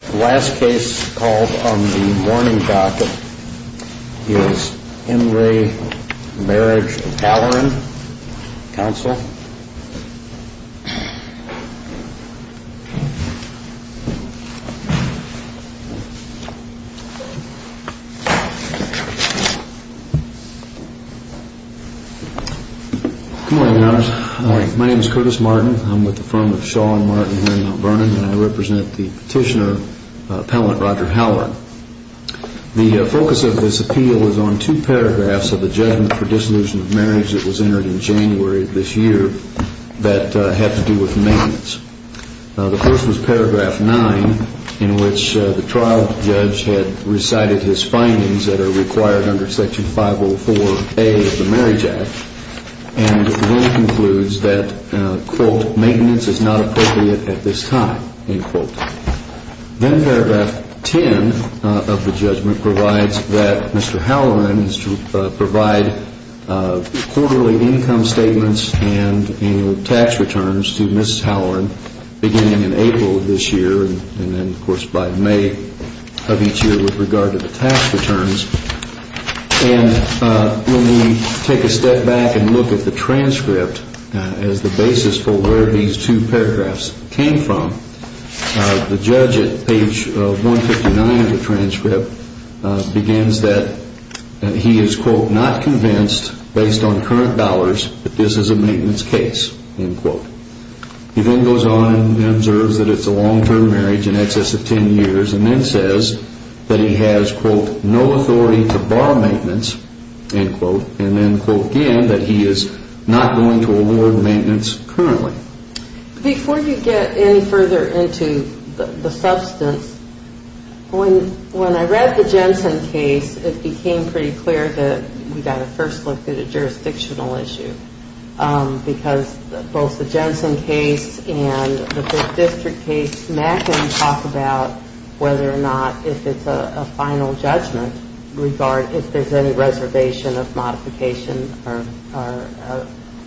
The last case called on the morning docket is Henry Marriage of Halleran, counsel. Good morning, Your Honors. Good morning. My name is Curtis Martin. I'm with the firm of Shaw & Martin here in Mount Vernon, and I represent the petitioner, appellant Roger Halleran. The focus of this appeal is on two paragraphs of the judgment for dissolution of marriage that was entered in January of this year that had to do with maintenance. The first was paragraph 9, in which the trial judge had recited his findings that are required under Section 504A of the Marriage Act, and then concludes that, quote, maintenance is not appropriate at this time, end quote. Then paragraph 10 of the judgment provides that Mr. Halleran is to provide quarterly income statements and annual tax returns to Mrs. Halleran beginning in April of this year, and then, of course, by May of each year with regard to the tax returns. And when we take a step back and look at the transcript as the basis for where these two paragraphs came from, the judge at page 159 of the transcript begins that he is, quote, not convinced based on current dollars that this is a maintenance case, end quote. He then goes on and observes that it's a long-term marriage in excess of 10 years, and then says that he has, quote, no authority to borrow maintenance, end quote, and then, quote, again, that he is not going to award maintenance currently. Before you get any further into the substance, when I read the Jensen case, it became pretty clear that we've got to first look at a jurisdictional issue because both the Jensen case and the district case, Mack can talk about whether or not, if it's a final judgment, regard if there's any reservation of modification or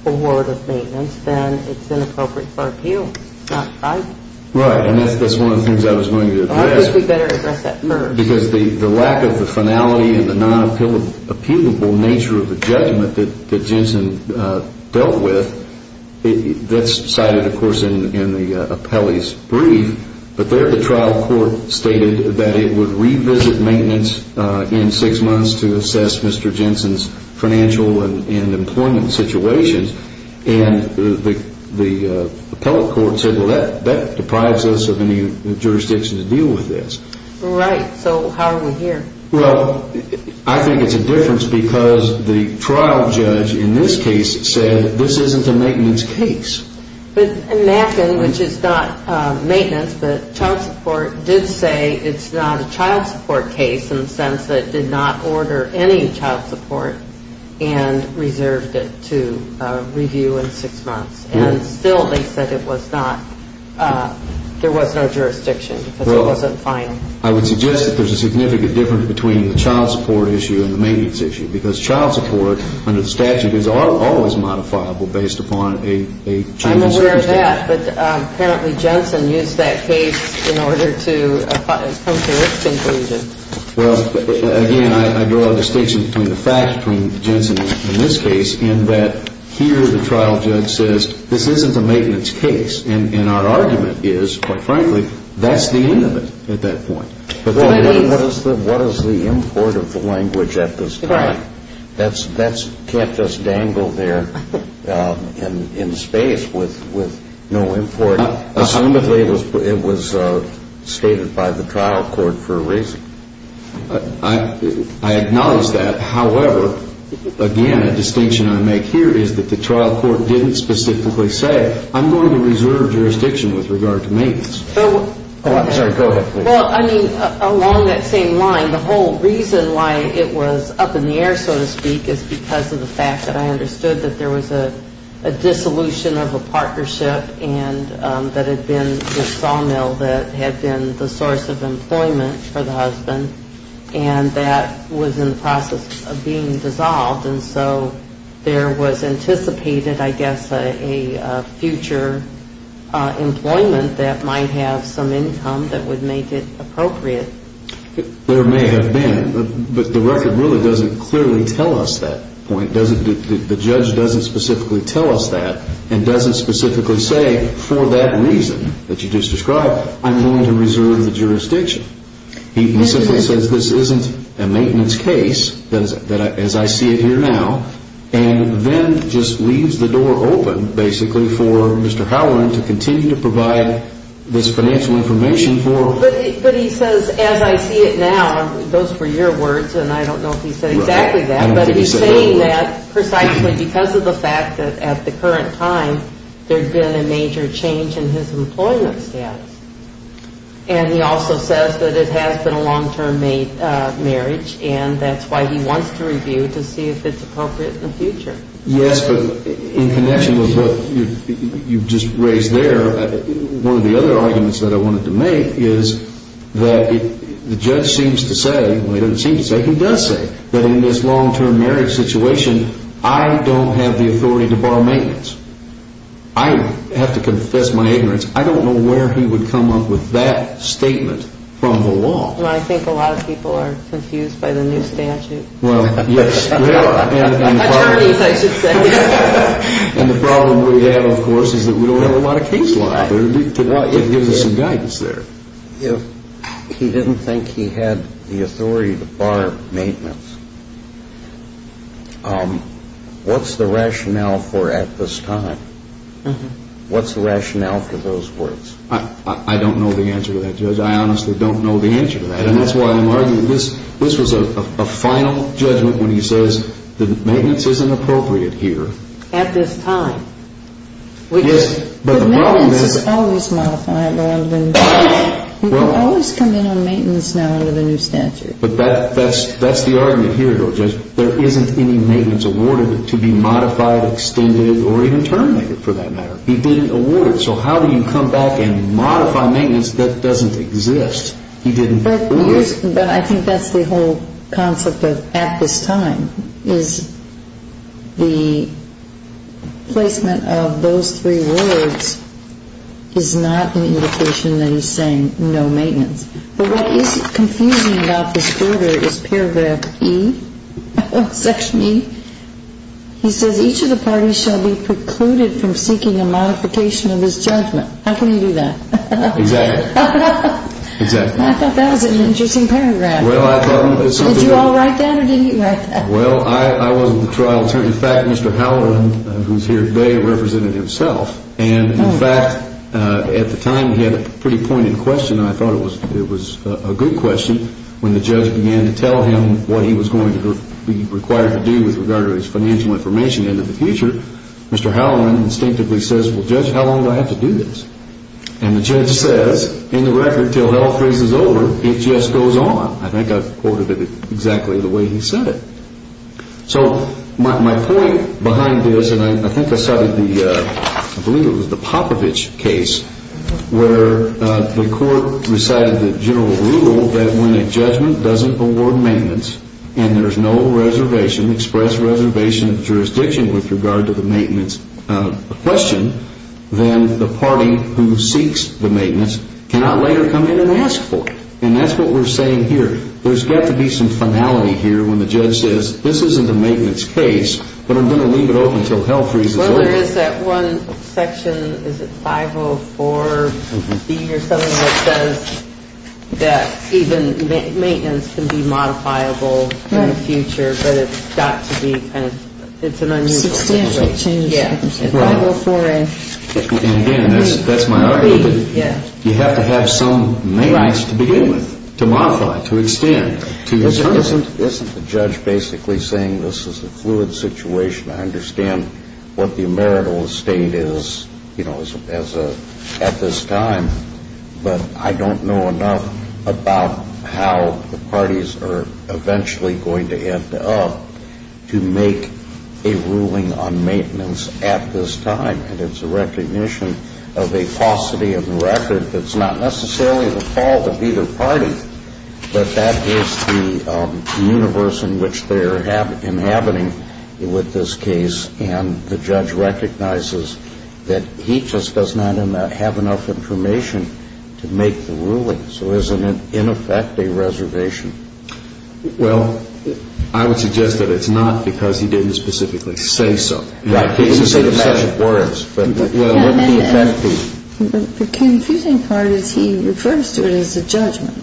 award of maintenance, then it's inappropriate for appeal. Right? Right, and that's one of the things I was going to address. I think we better address that first. Because the lack of the finality and the non-appealable nature of the judgment that Jensen dealt with, that's cited, of course, in the appellee's brief, but there the trial court stated that it would revisit maintenance in six months to assess Mr. Jensen's financial and employment situations, and the appellate court said, well, that deprives us of any jurisdiction to deal with this. Right, so how are we here? Well, I think it's a difference because the trial judge in this case said this isn't a maintenance case. Mack, which is not maintenance, but child support, did say it's not a child support case in the sense that it did not order any child support and reserved it to review in six months. And still they said it was not, there was no jurisdiction because it wasn't final. I would suggest that there's a significant difference between the child support issue and the maintenance issue because child support under the statute is always modifiable based upon a change in jurisdiction. I'm aware of that, but apparently Jensen used that case in order to come to this conclusion. Well, again, I draw a distinction between the fact between Jensen in this case and that here the trial judge says this isn't a maintenance case, and our argument is, quite frankly, that's the end of it at that point. What is the import of the language at this point? That can't just dangle there in space with no import. Assumably it was stated by the trial court for a reason. I acknowledge that. However, again, a distinction I make here is that the trial court didn't specifically say, I'm going to reserve jurisdiction with regard to maintenance. I'm sorry, go ahead, please. Well, I mean, along that same line, the whole reason why it was up in the air, so to speak, is because of the fact that I understood that there was a dissolution of a partnership that had been the sawmill that had been the source of employment for the husband, and that was in the process of being dissolved. And so there was anticipated, I guess, a future employment that might have some income that would make it appropriate. There may have been, but the record really doesn't clearly tell us that point. The judge doesn't specifically tell us that and doesn't specifically say, for that reason that you just described, I'm going to reserve the jurisdiction. He simply says this isn't a maintenance case, as I see it here now, and then just leaves the door open, basically, for Mr. Howland to continue to provide this financial information for... But he says, as I see it now, those were your words, and I don't know if he said exactly that, but he's saying that precisely because of the fact that at the current time there had been a major change in his employment status. And he also says that it has been a long-term marriage, and that's why he wants to review to see if it's appropriate in the future. Yes, but in connection with what you've just raised there, one of the other arguments that I wanted to make is that the judge seems to say, well, he doesn't seem to say, he does say that in this long-term marriage situation I don't have the authority to bar maintenance. I have to confess my ignorance. I don't know where he would come up with that statement from the law. Well, I think a lot of people are confused by the new statute. Well, yes, they are. Attorneys, I should say. And the problem we have, of course, is that we don't have a lot of case law. It gives us some guidance there. If he didn't think he had the authority to bar maintenance, what's the rationale for at this time? What's the rationale for those words? I don't know the answer to that, Judge. I honestly don't know the answer to that. And that's why I'm arguing this was a final judgment when he says that maintenance isn't appropriate here. At this time. But maintenance is always modified. You can always come in on maintenance now under the new statute. But that's the argument here, Judge. There isn't any maintenance awarded to be modified, extended, or even terminated for that matter. He didn't award it. So how do you come back and modify maintenance that doesn't exist? He didn't award it. But I think that's the whole concept of at this time is the placement of those three words is not an indication that he's saying no maintenance. But what is confusing about this order is Paragraph E, Section E. He says each of the parties shall be precluded from seeking a modification of his judgment. How can he do that? Exactly. I thought that was an interesting paragraph. Did you all write that or didn't you write that? Well, I wasn't the trial attorney. In fact, Mr. Halloran, who's here today, represented himself. And, in fact, at the time he had a pretty pointed question, and I thought it was a good question. When the judge began to tell him what he was going to be required to do with regard to his financial information into the future, Mr. Halloran instinctively says, well, Judge, how long do I have to do this? And the judge says, in the record, until hell freezes over, it just goes on. I think I quoted it exactly the way he said it. So my point behind this, and I think I cited the Popovich case, where the court recited the general rule that when a judgment doesn't award maintenance and there's no reservation, express reservation of jurisdiction with regard to the maintenance question, then the party who seeks the maintenance cannot later come in and ask for it. And that's what we're saying here. There's got to be some finality here when the judge says, this isn't a maintenance case, but I'm going to leave it open until hell freezes over. Well, there is that one section, is it 504B or something, that says that even maintenance can be modifiable in the future, but it's got to be kind of unusual. Substantial changes. And again, that's my argument. You have to have some main rights to begin with, to modify, to extend. Isn't the judge basically saying this is a fluid situation? I understand what the emeritus state is at this time, but I don't know enough about how the parties are eventually going to end up to make a ruling on maintenance at this time. And it's a recognition of a paucity of the record that's not necessarily the fault of either party, but that is the universe in which they're inhabiting with this case. And the judge recognizes that he just does not have enough information to make the ruling. So isn't it, in effect, a reservation? Well, I would suggest that it's not because he didn't specifically say so. Right. He didn't say the best words. But what the effect would be. The confusing part is he refers to it as a judgment,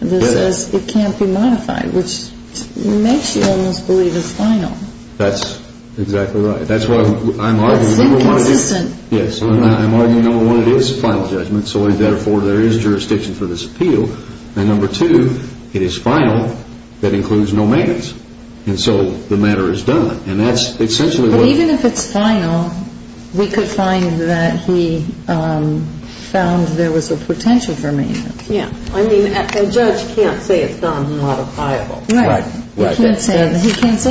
that says it can't be modified, which makes you almost believe it's final. That's exactly right. That's what I'm arguing. It's inconsistent. Yes. I'm arguing, number one, it is a final judgment, so therefore there is jurisdiction for this appeal. And number two, it is final, that includes no maintenance. And so the matter is done. And that's essentially what... But even if it's final, we could find that he found there was a potential for maintenance. Yes. I mean, a judge can't say it's not modifiable. Right. He can't say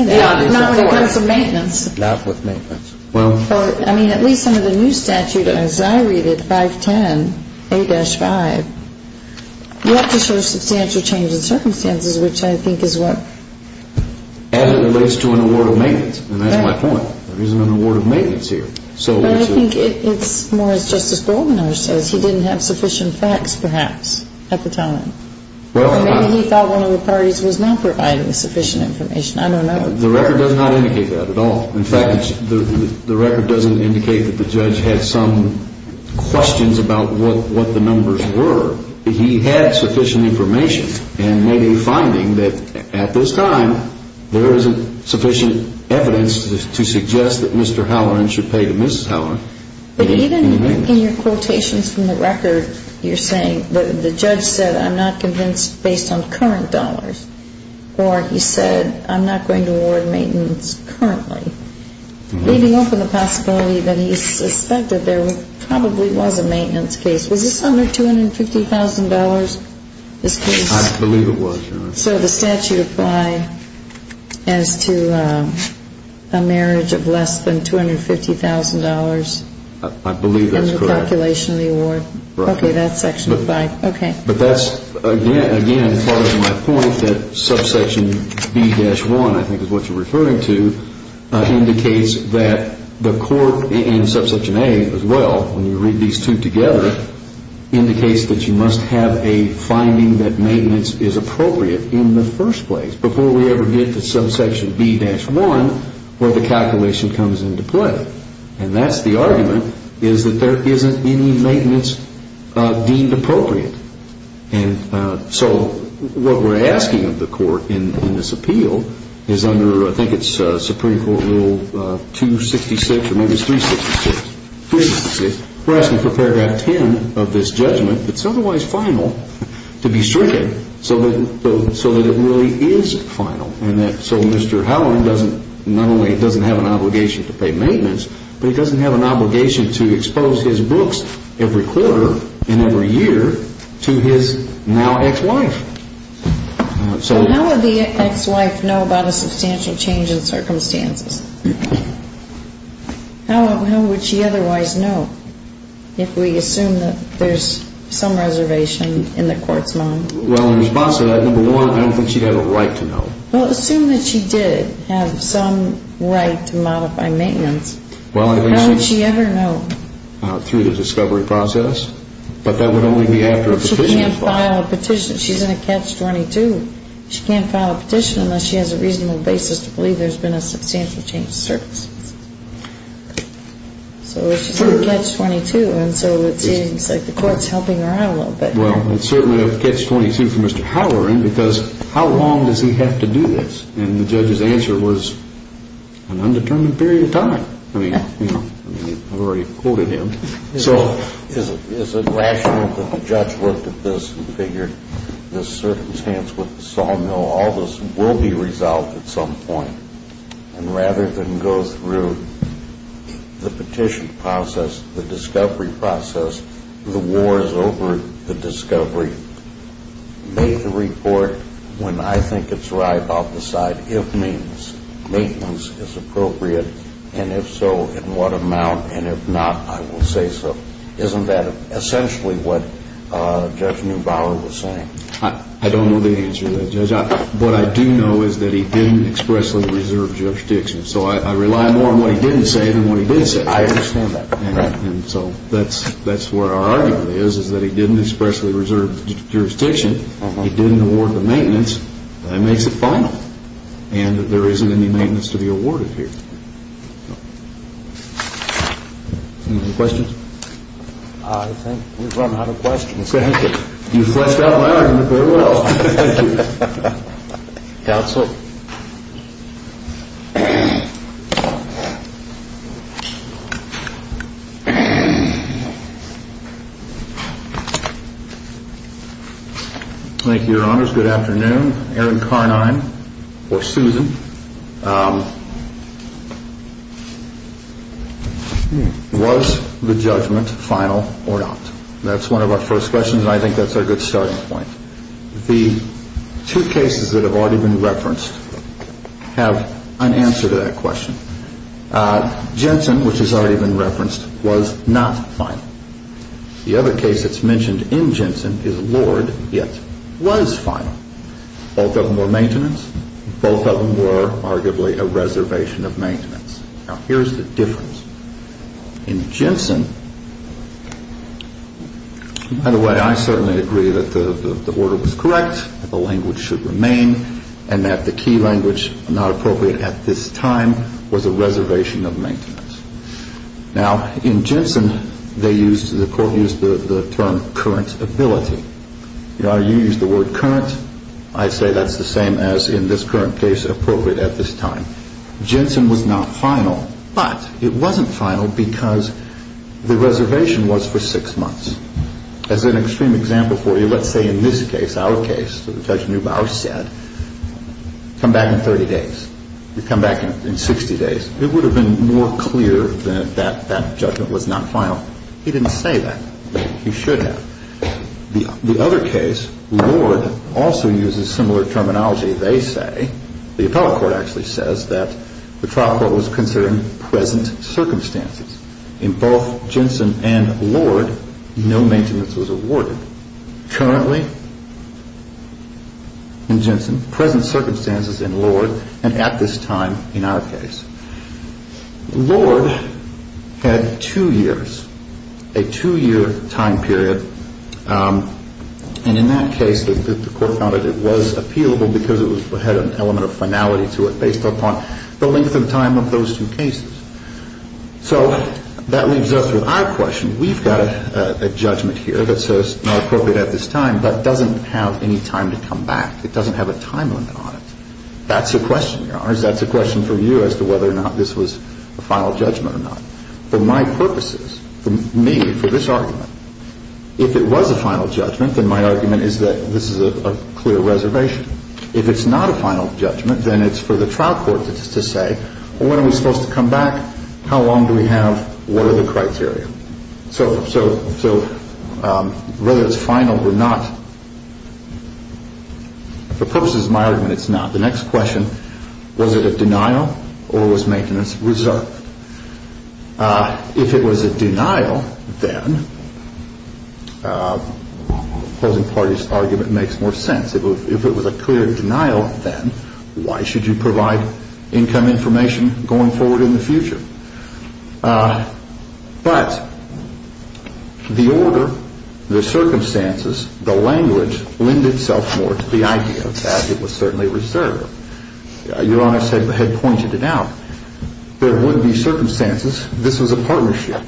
that. Not when it comes to maintenance. Not with maintenance. Well... Well, I mean, at least under the new statute, as I read it, 510A-5, you have to show substantial change in circumstances, which I think is what... As it relates to an award of maintenance. And that's my point. There isn't an award of maintenance here. But I think it's more, as Justice Goldenhoer says, he didn't have sufficient facts, perhaps, at the time. Or maybe he thought one of the parties was not providing sufficient information. I don't know. The record does not indicate that at all. In fact, the record doesn't indicate that the judge had some questions about what the numbers were. He had sufficient information and made a finding that, at this time, there isn't sufficient evidence to suggest that Mr. Halloran should pay to Mrs. Halloran. But even in your quotations from the record, you're saying the judge said, I'm not convinced based on current dollars. Or he said, I'm not going to award maintenance currently. Leaving open the possibility that he suspected there probably was a maintenance case. Was this under $250,000, this case? I believe it was, Your Honor. So the statute applied as to a marriage of less than $250,000? I believe that's correct. In the calculation of the award? Right. Okay, that's Section 5. Okay. But that's, again, part of my point that Subsection B-1, I think is what you're referring to, indicates that the court in Subsection A as well, when you read these two together, indicates that you must have a finding that maintenance is appropriate in the first place before we ever get to Subsection B-1 where the calculation comes into play. And that's the argument is that there isn't any maintenance deemed appropriate. And so what we're asking of the court in this appeal is under, I think it's Supreme Court Rule 266 or maybe it's 366. We're asking for paragraph 10 of this judgment that's otherwise final to be stricken so that it really is final. So Mr. Howland doesn't, not only doesn't have an obligation to pay maintenance, but he doesn't have an obligation to expose his books every quarter and every year to his now ex-wife. So how would the ex-wife know about a substantial change in circumstances? How would she otherwise know if we assume that there's some reservation in the court's mind? Well, in response to that, number one, I don't think she'd have a right to know. Well, assume that she did have some right to modify maintenance. How would she ever know? Through the discovery process. But that would only be after a petition is filed. She can't file a petition. She's in a Catch-22. She can't file a petition unless she has a reasonable basis to believe there's been a substantial change in circumstances. So if she's in a Catch-22 and so it seems like the court's helping her out a little bit. Well, it's certainly a Catch-22 for Mr. Howland because how long does he have to do this? And the judge's answer was an undetermined period of time. I mean, you know, I've already quoted him. So is it rational that the judge looked at this and figured this circumstance with the sawmill, all this will be resolved at some point. And rather than go through the petition process, the discovery process, the war is over, the discovery. Make the report when I think it's right. I'll decide if maintenance is appropriate, and if so, in what amount, and if not, I will say so. Isn't that essentially what Judge Neubauer was saying? I don't know the answer to that, Judge. What I do know is that he didn't expressly reserve jurisdiction. So I rely more on what he didn't say than what he did say. I understand that. And so that's where our argument is, is that he didn't expressly reserve jurisdiction. He didn't award the maintenance. That makes it final. And there isn't any maintenance to be awarded here. Any questions? I think we've run out of questions. You fleshed out my argument very well. Thank you. Counsel. Thank you, Your Honors. Good afternoon. Aaron Carnine or Susan. Was the judgment final or not? That's one of our first questions, and I think that's a good starting point. The two cases that have already been referenced have an answer to that question. Jensen, which has already been referenced, was not final. The other case that's mentioned in Jensen is Lord, yet was final. Both of them were maintenance. Both of them were arguably a reservation of maintenance. Now, here's the difference. In Jensen, by the way, I certainly agree that the order was correct, the language should remain, and that the key language not appropriate at this time was a reservation of maintenance. Now, in Jensen, the court used the term current ability. You used the word current. I say that's the same as in this current case, appropriate at this time. Jensen was not final, but it wasn't final because the reservation was for six months. As an extreme example for you, let's say in this case, our case, Judge Neubauer said, come back in 30 days. You come back in 60 days. It would have been more clear that that judgment was not final. He didn't say that. He should have. The other case, Lord, also uses similar terminology. They say, the appellate court actually says, that the trial court was considering present circumstances. In both Jensen and Lord, no maintenance was awarded. Currently, in Jensen, present circumstances in Lord, and at this time in our case. Lord had two years, a two-year time period. And in that case, the court found that it was appealable because it had an element of finality to it, based upon the length of time of those two cases. So that leaves us with our question. We've got a judgment here that says not appropriate at this time, but doesn't have any time to come back. It doesn't have a time limit on it. That's a question, Your Honors. That's a question for you as to whether or not this was a final judgment or not. For my purposes, for me, for this argument, if it was a final judgment, then my argument is that this is a clear reservation. If it's not a final judgment, then it's for the trial court to say, well, when are we supposed to come back? How long do we have? What are the criteria? So whether it's final or not, for purposes of my argument, it's not. The next question, was it a denial or was maintenance reserved? If it was a denial, then opposing parties' argument makes more sense. If it was a clear denial, then why should you provide income information going forward in the future? But the order, the circumstances, the language lend itself more to the idea that it was certainly reserved. Your Honors had pointed it out. There would be circumstances. This was a partnership.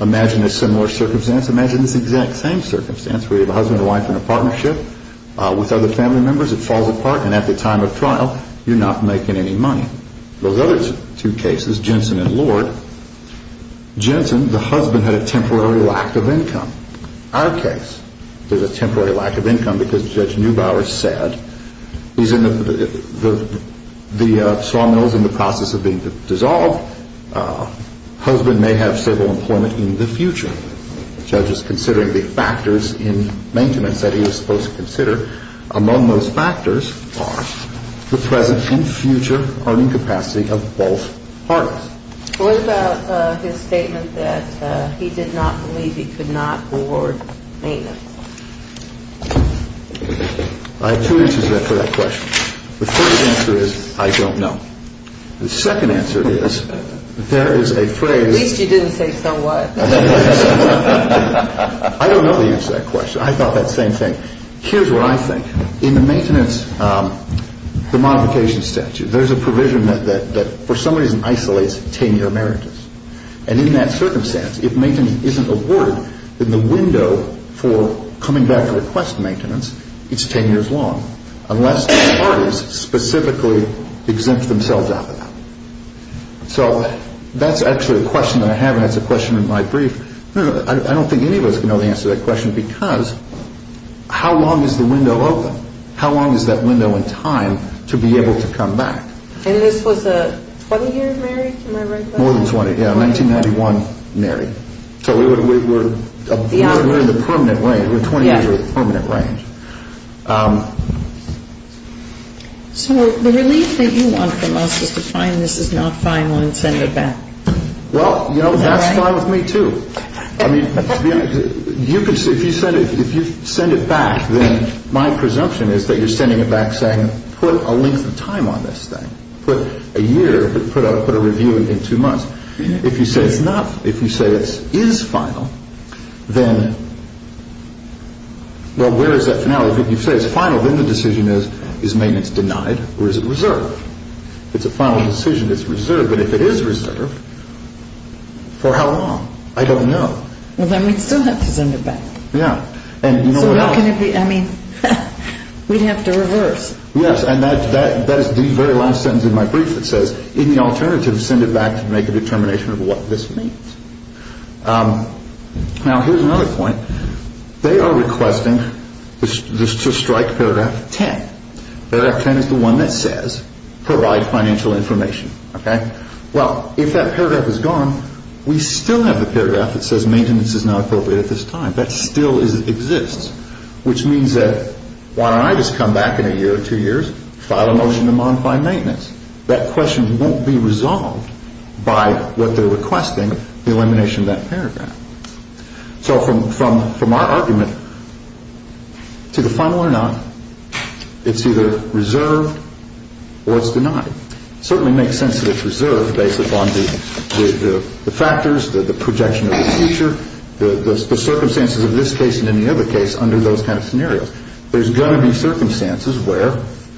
Imagine a similar circumstance. Imagine this exact same circumstance where you have a husband and wife in a partnership with other family members. It falls apart, and at the time of trial, you're not making any money. Those other two cases, Jensen and Lord, Jensen, the husband, had a temporary lack of income. Our case, there's a temporary lack of income because Judge Neubauer said the sawmill is in the process of being dissolved. Husband may have civil employment in the future. The judge is considering the factors in maintenance that he was supposed to consider. Among those factors are the present and future earning capacity of both parties. What about his statement that he did not believe he could not award maintenance? I have two answers for that question. The first answer is I don't know. The second answer is there is a phrase. At least you didn't say so what. I don't know the answer to that question. I thought that same thing. Here's what I think. In the maintenance, the modification statute, there's a provision that for some reason isolates 10-year merits. And in that circumstance, if maintenance isn't awarded, then the window for coming back to request maintenance, it's 10 years long, unless the parties specifically exempt themselves out of that. So that's actually a question that I have, and that's a question in my brief. I don't think any of us know the answer to that question because how long is the window open? How long is that window in time to be able to come back? And this was a 20-year merit, am I right? More than 20, yeah, 1991 merit. So we're in the permanent range. We're 20 years in the permanent range. So the relief that you want from us is to find this is not final and send it back. Well, you know, that's fine with me, too. I mean, to be honest, if you send it back, then my presumption is that you're sending it back saying put a length of time on this thing. Put a year, put a review in two months. If you say it's not, if you say it is final, then, well, where is that finale? If you say it's final, then the decision is, is maintenance denied or is it reserved? It's a final decision. It's reserved. But if it is reserved, for how long? I don't know. Well, then we'd still have to send it back. Yeah. And you know what else? So what can it be? I mean, we'd have to reverse. Yes, and that is the very last sentence in my brief that says, in the alternative, send it back to make a determination of what this means. Now, here's another point. They are requesting to strike Paragraph 10. Paragraph 10 is the one that says provide financial information. Okay? Well, if that paragraph is gone, we still have the paragraph that says maintenance is not appropriate at this time. That still exists, which means that why don't I just come back in a year or two years, file a motion to modify maintenance. That question won't be resolved by what they're requesting, the elimination of that paragraph. So from our argument, to the final or not, it's either reserved or it's denied. It certainly makes sense that it's reserved based upon the factors, the projection of the future, the circumstances of this case and any other case under those kind of scenarios. There's going to be circumstances where,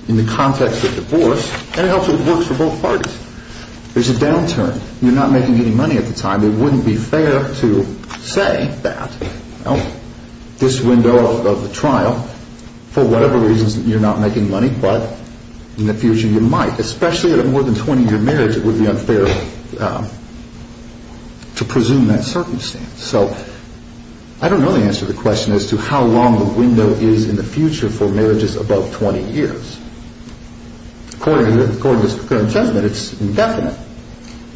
in the context of divorce, and it also works for both parties, there's a downturn. You're not making any money at the time. It wouldn't be fair to say that this window of the trial, for whatever reasons you're not making money, but in the future you might. Especially at a more than 20-year marriage, it would be unfair to presume that circumstance. So I don't know the answer to the question as to how long the window is in the future for marriages above 20 years. According to this current judgment, it's indefinite.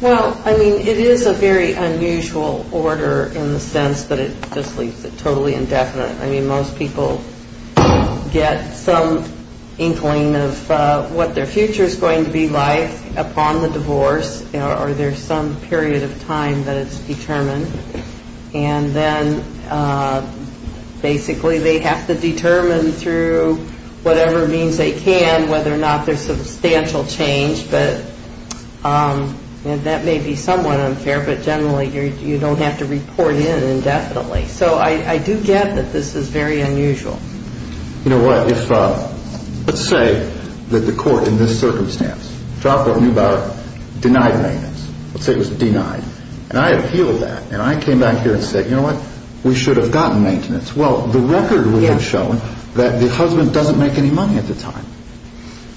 Well, I mean, it is a very unusual order in the sense that it just leaves it totally indefinite. I mean, most people get some inkling of what their future is going to be like upon the divorce or there's some period of time that it's determined. And then basically they have to determine through whatever means they can whether or not there's substantial change. And that may be somewhat unfair, but generally you don't have to report in indefinitely. So I do get that this is very unusual. You know what? Let's say that the court in this circumstance, trial court knew about it, denied maintenance. Let's say it was denied. And I appealed that. And I came back here and said, you know what? We should have gotten maintenance. Well, the record would have shown that the husband doesn't make any money at the time.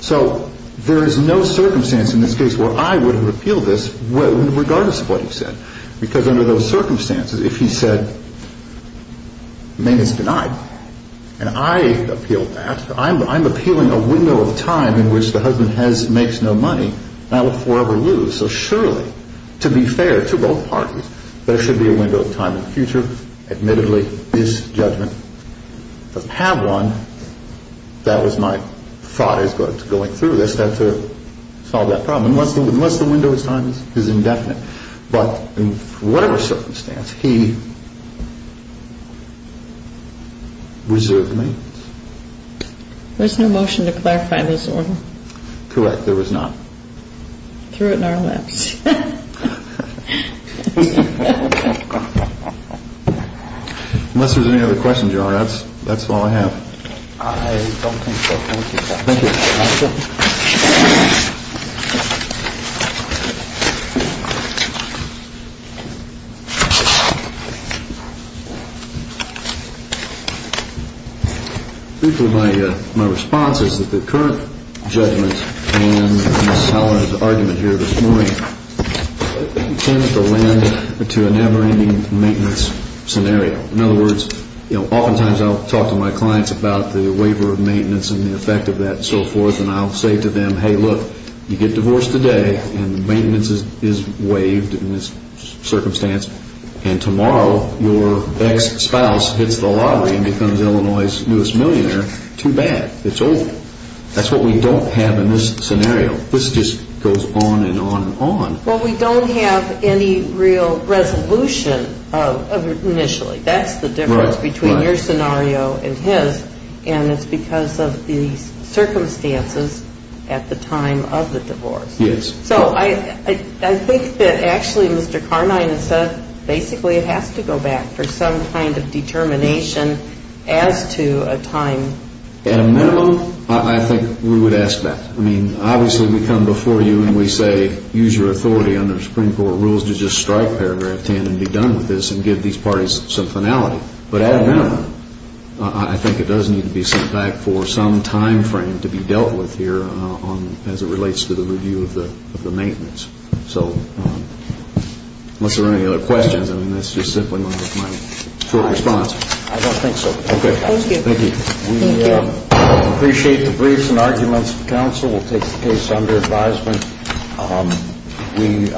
So there is no circumstance in this case where I would have appealed this regardless of what he said. Because under those circumstances, if he said maintenance denied, and I appealed that, I'm appealing a window of time in which the husband makes no money. And I would forever lose. So surely, to be fair to both parties, there should be a window of time in the future. Admittedly, this judgment doesn't have one. And that was my thought as going through this, that to solve that problem. Unless the window of time is indefinite. But in whatever circumstance, he reserved me. There's no motion to clarify this order. Correct. There was not. Threw it in our laps. Unless there's any other questions, your Honor, that's all I have. I don't think so. Thank you, sir. Thank you. Thank you. My response is that the current judgment in Ms. Haller's argument here this morning tends to lend to a never-ending maintenance scenario. In other words, oftentimes I'll talk to my clients about the waiver of maintenance and the effect of that and so forth. And I'll say to them, hey, look, you get divorced today and the maintenance is waived in this circumstance. And tomorrow your ex-spouse hits the lottery and becomes Illinois' newest millionaire. Too bad. It's over. That's what we don't have in this scenario. This just goes on and on and on. Well, we don't have any real resolution initially. That's the difference between your scenario and his. And it's because of the circumstances at the time of the divorce. Yes. So I think that actually Mr. Carnine has said basically it has to go back for some kind of determination as to a time. At a minimum, I think we would ask that. I mean, obviously we come before you and we say use your authority under the Supreme Court rules to just strike Paragraph 10 and be done with this and give these parties some finality. But at a minimum, I think it does need to be sent back for some time frame to be dealt with here as it relates to the review of the maintenance. So unless there are any other questions, I mean, that's just simply my short response. I don't think so. Okay. Thank you. Thank you. We appreciate the briefs and arguments. Counsel will take the case under advisement. We are recessed to one. All right.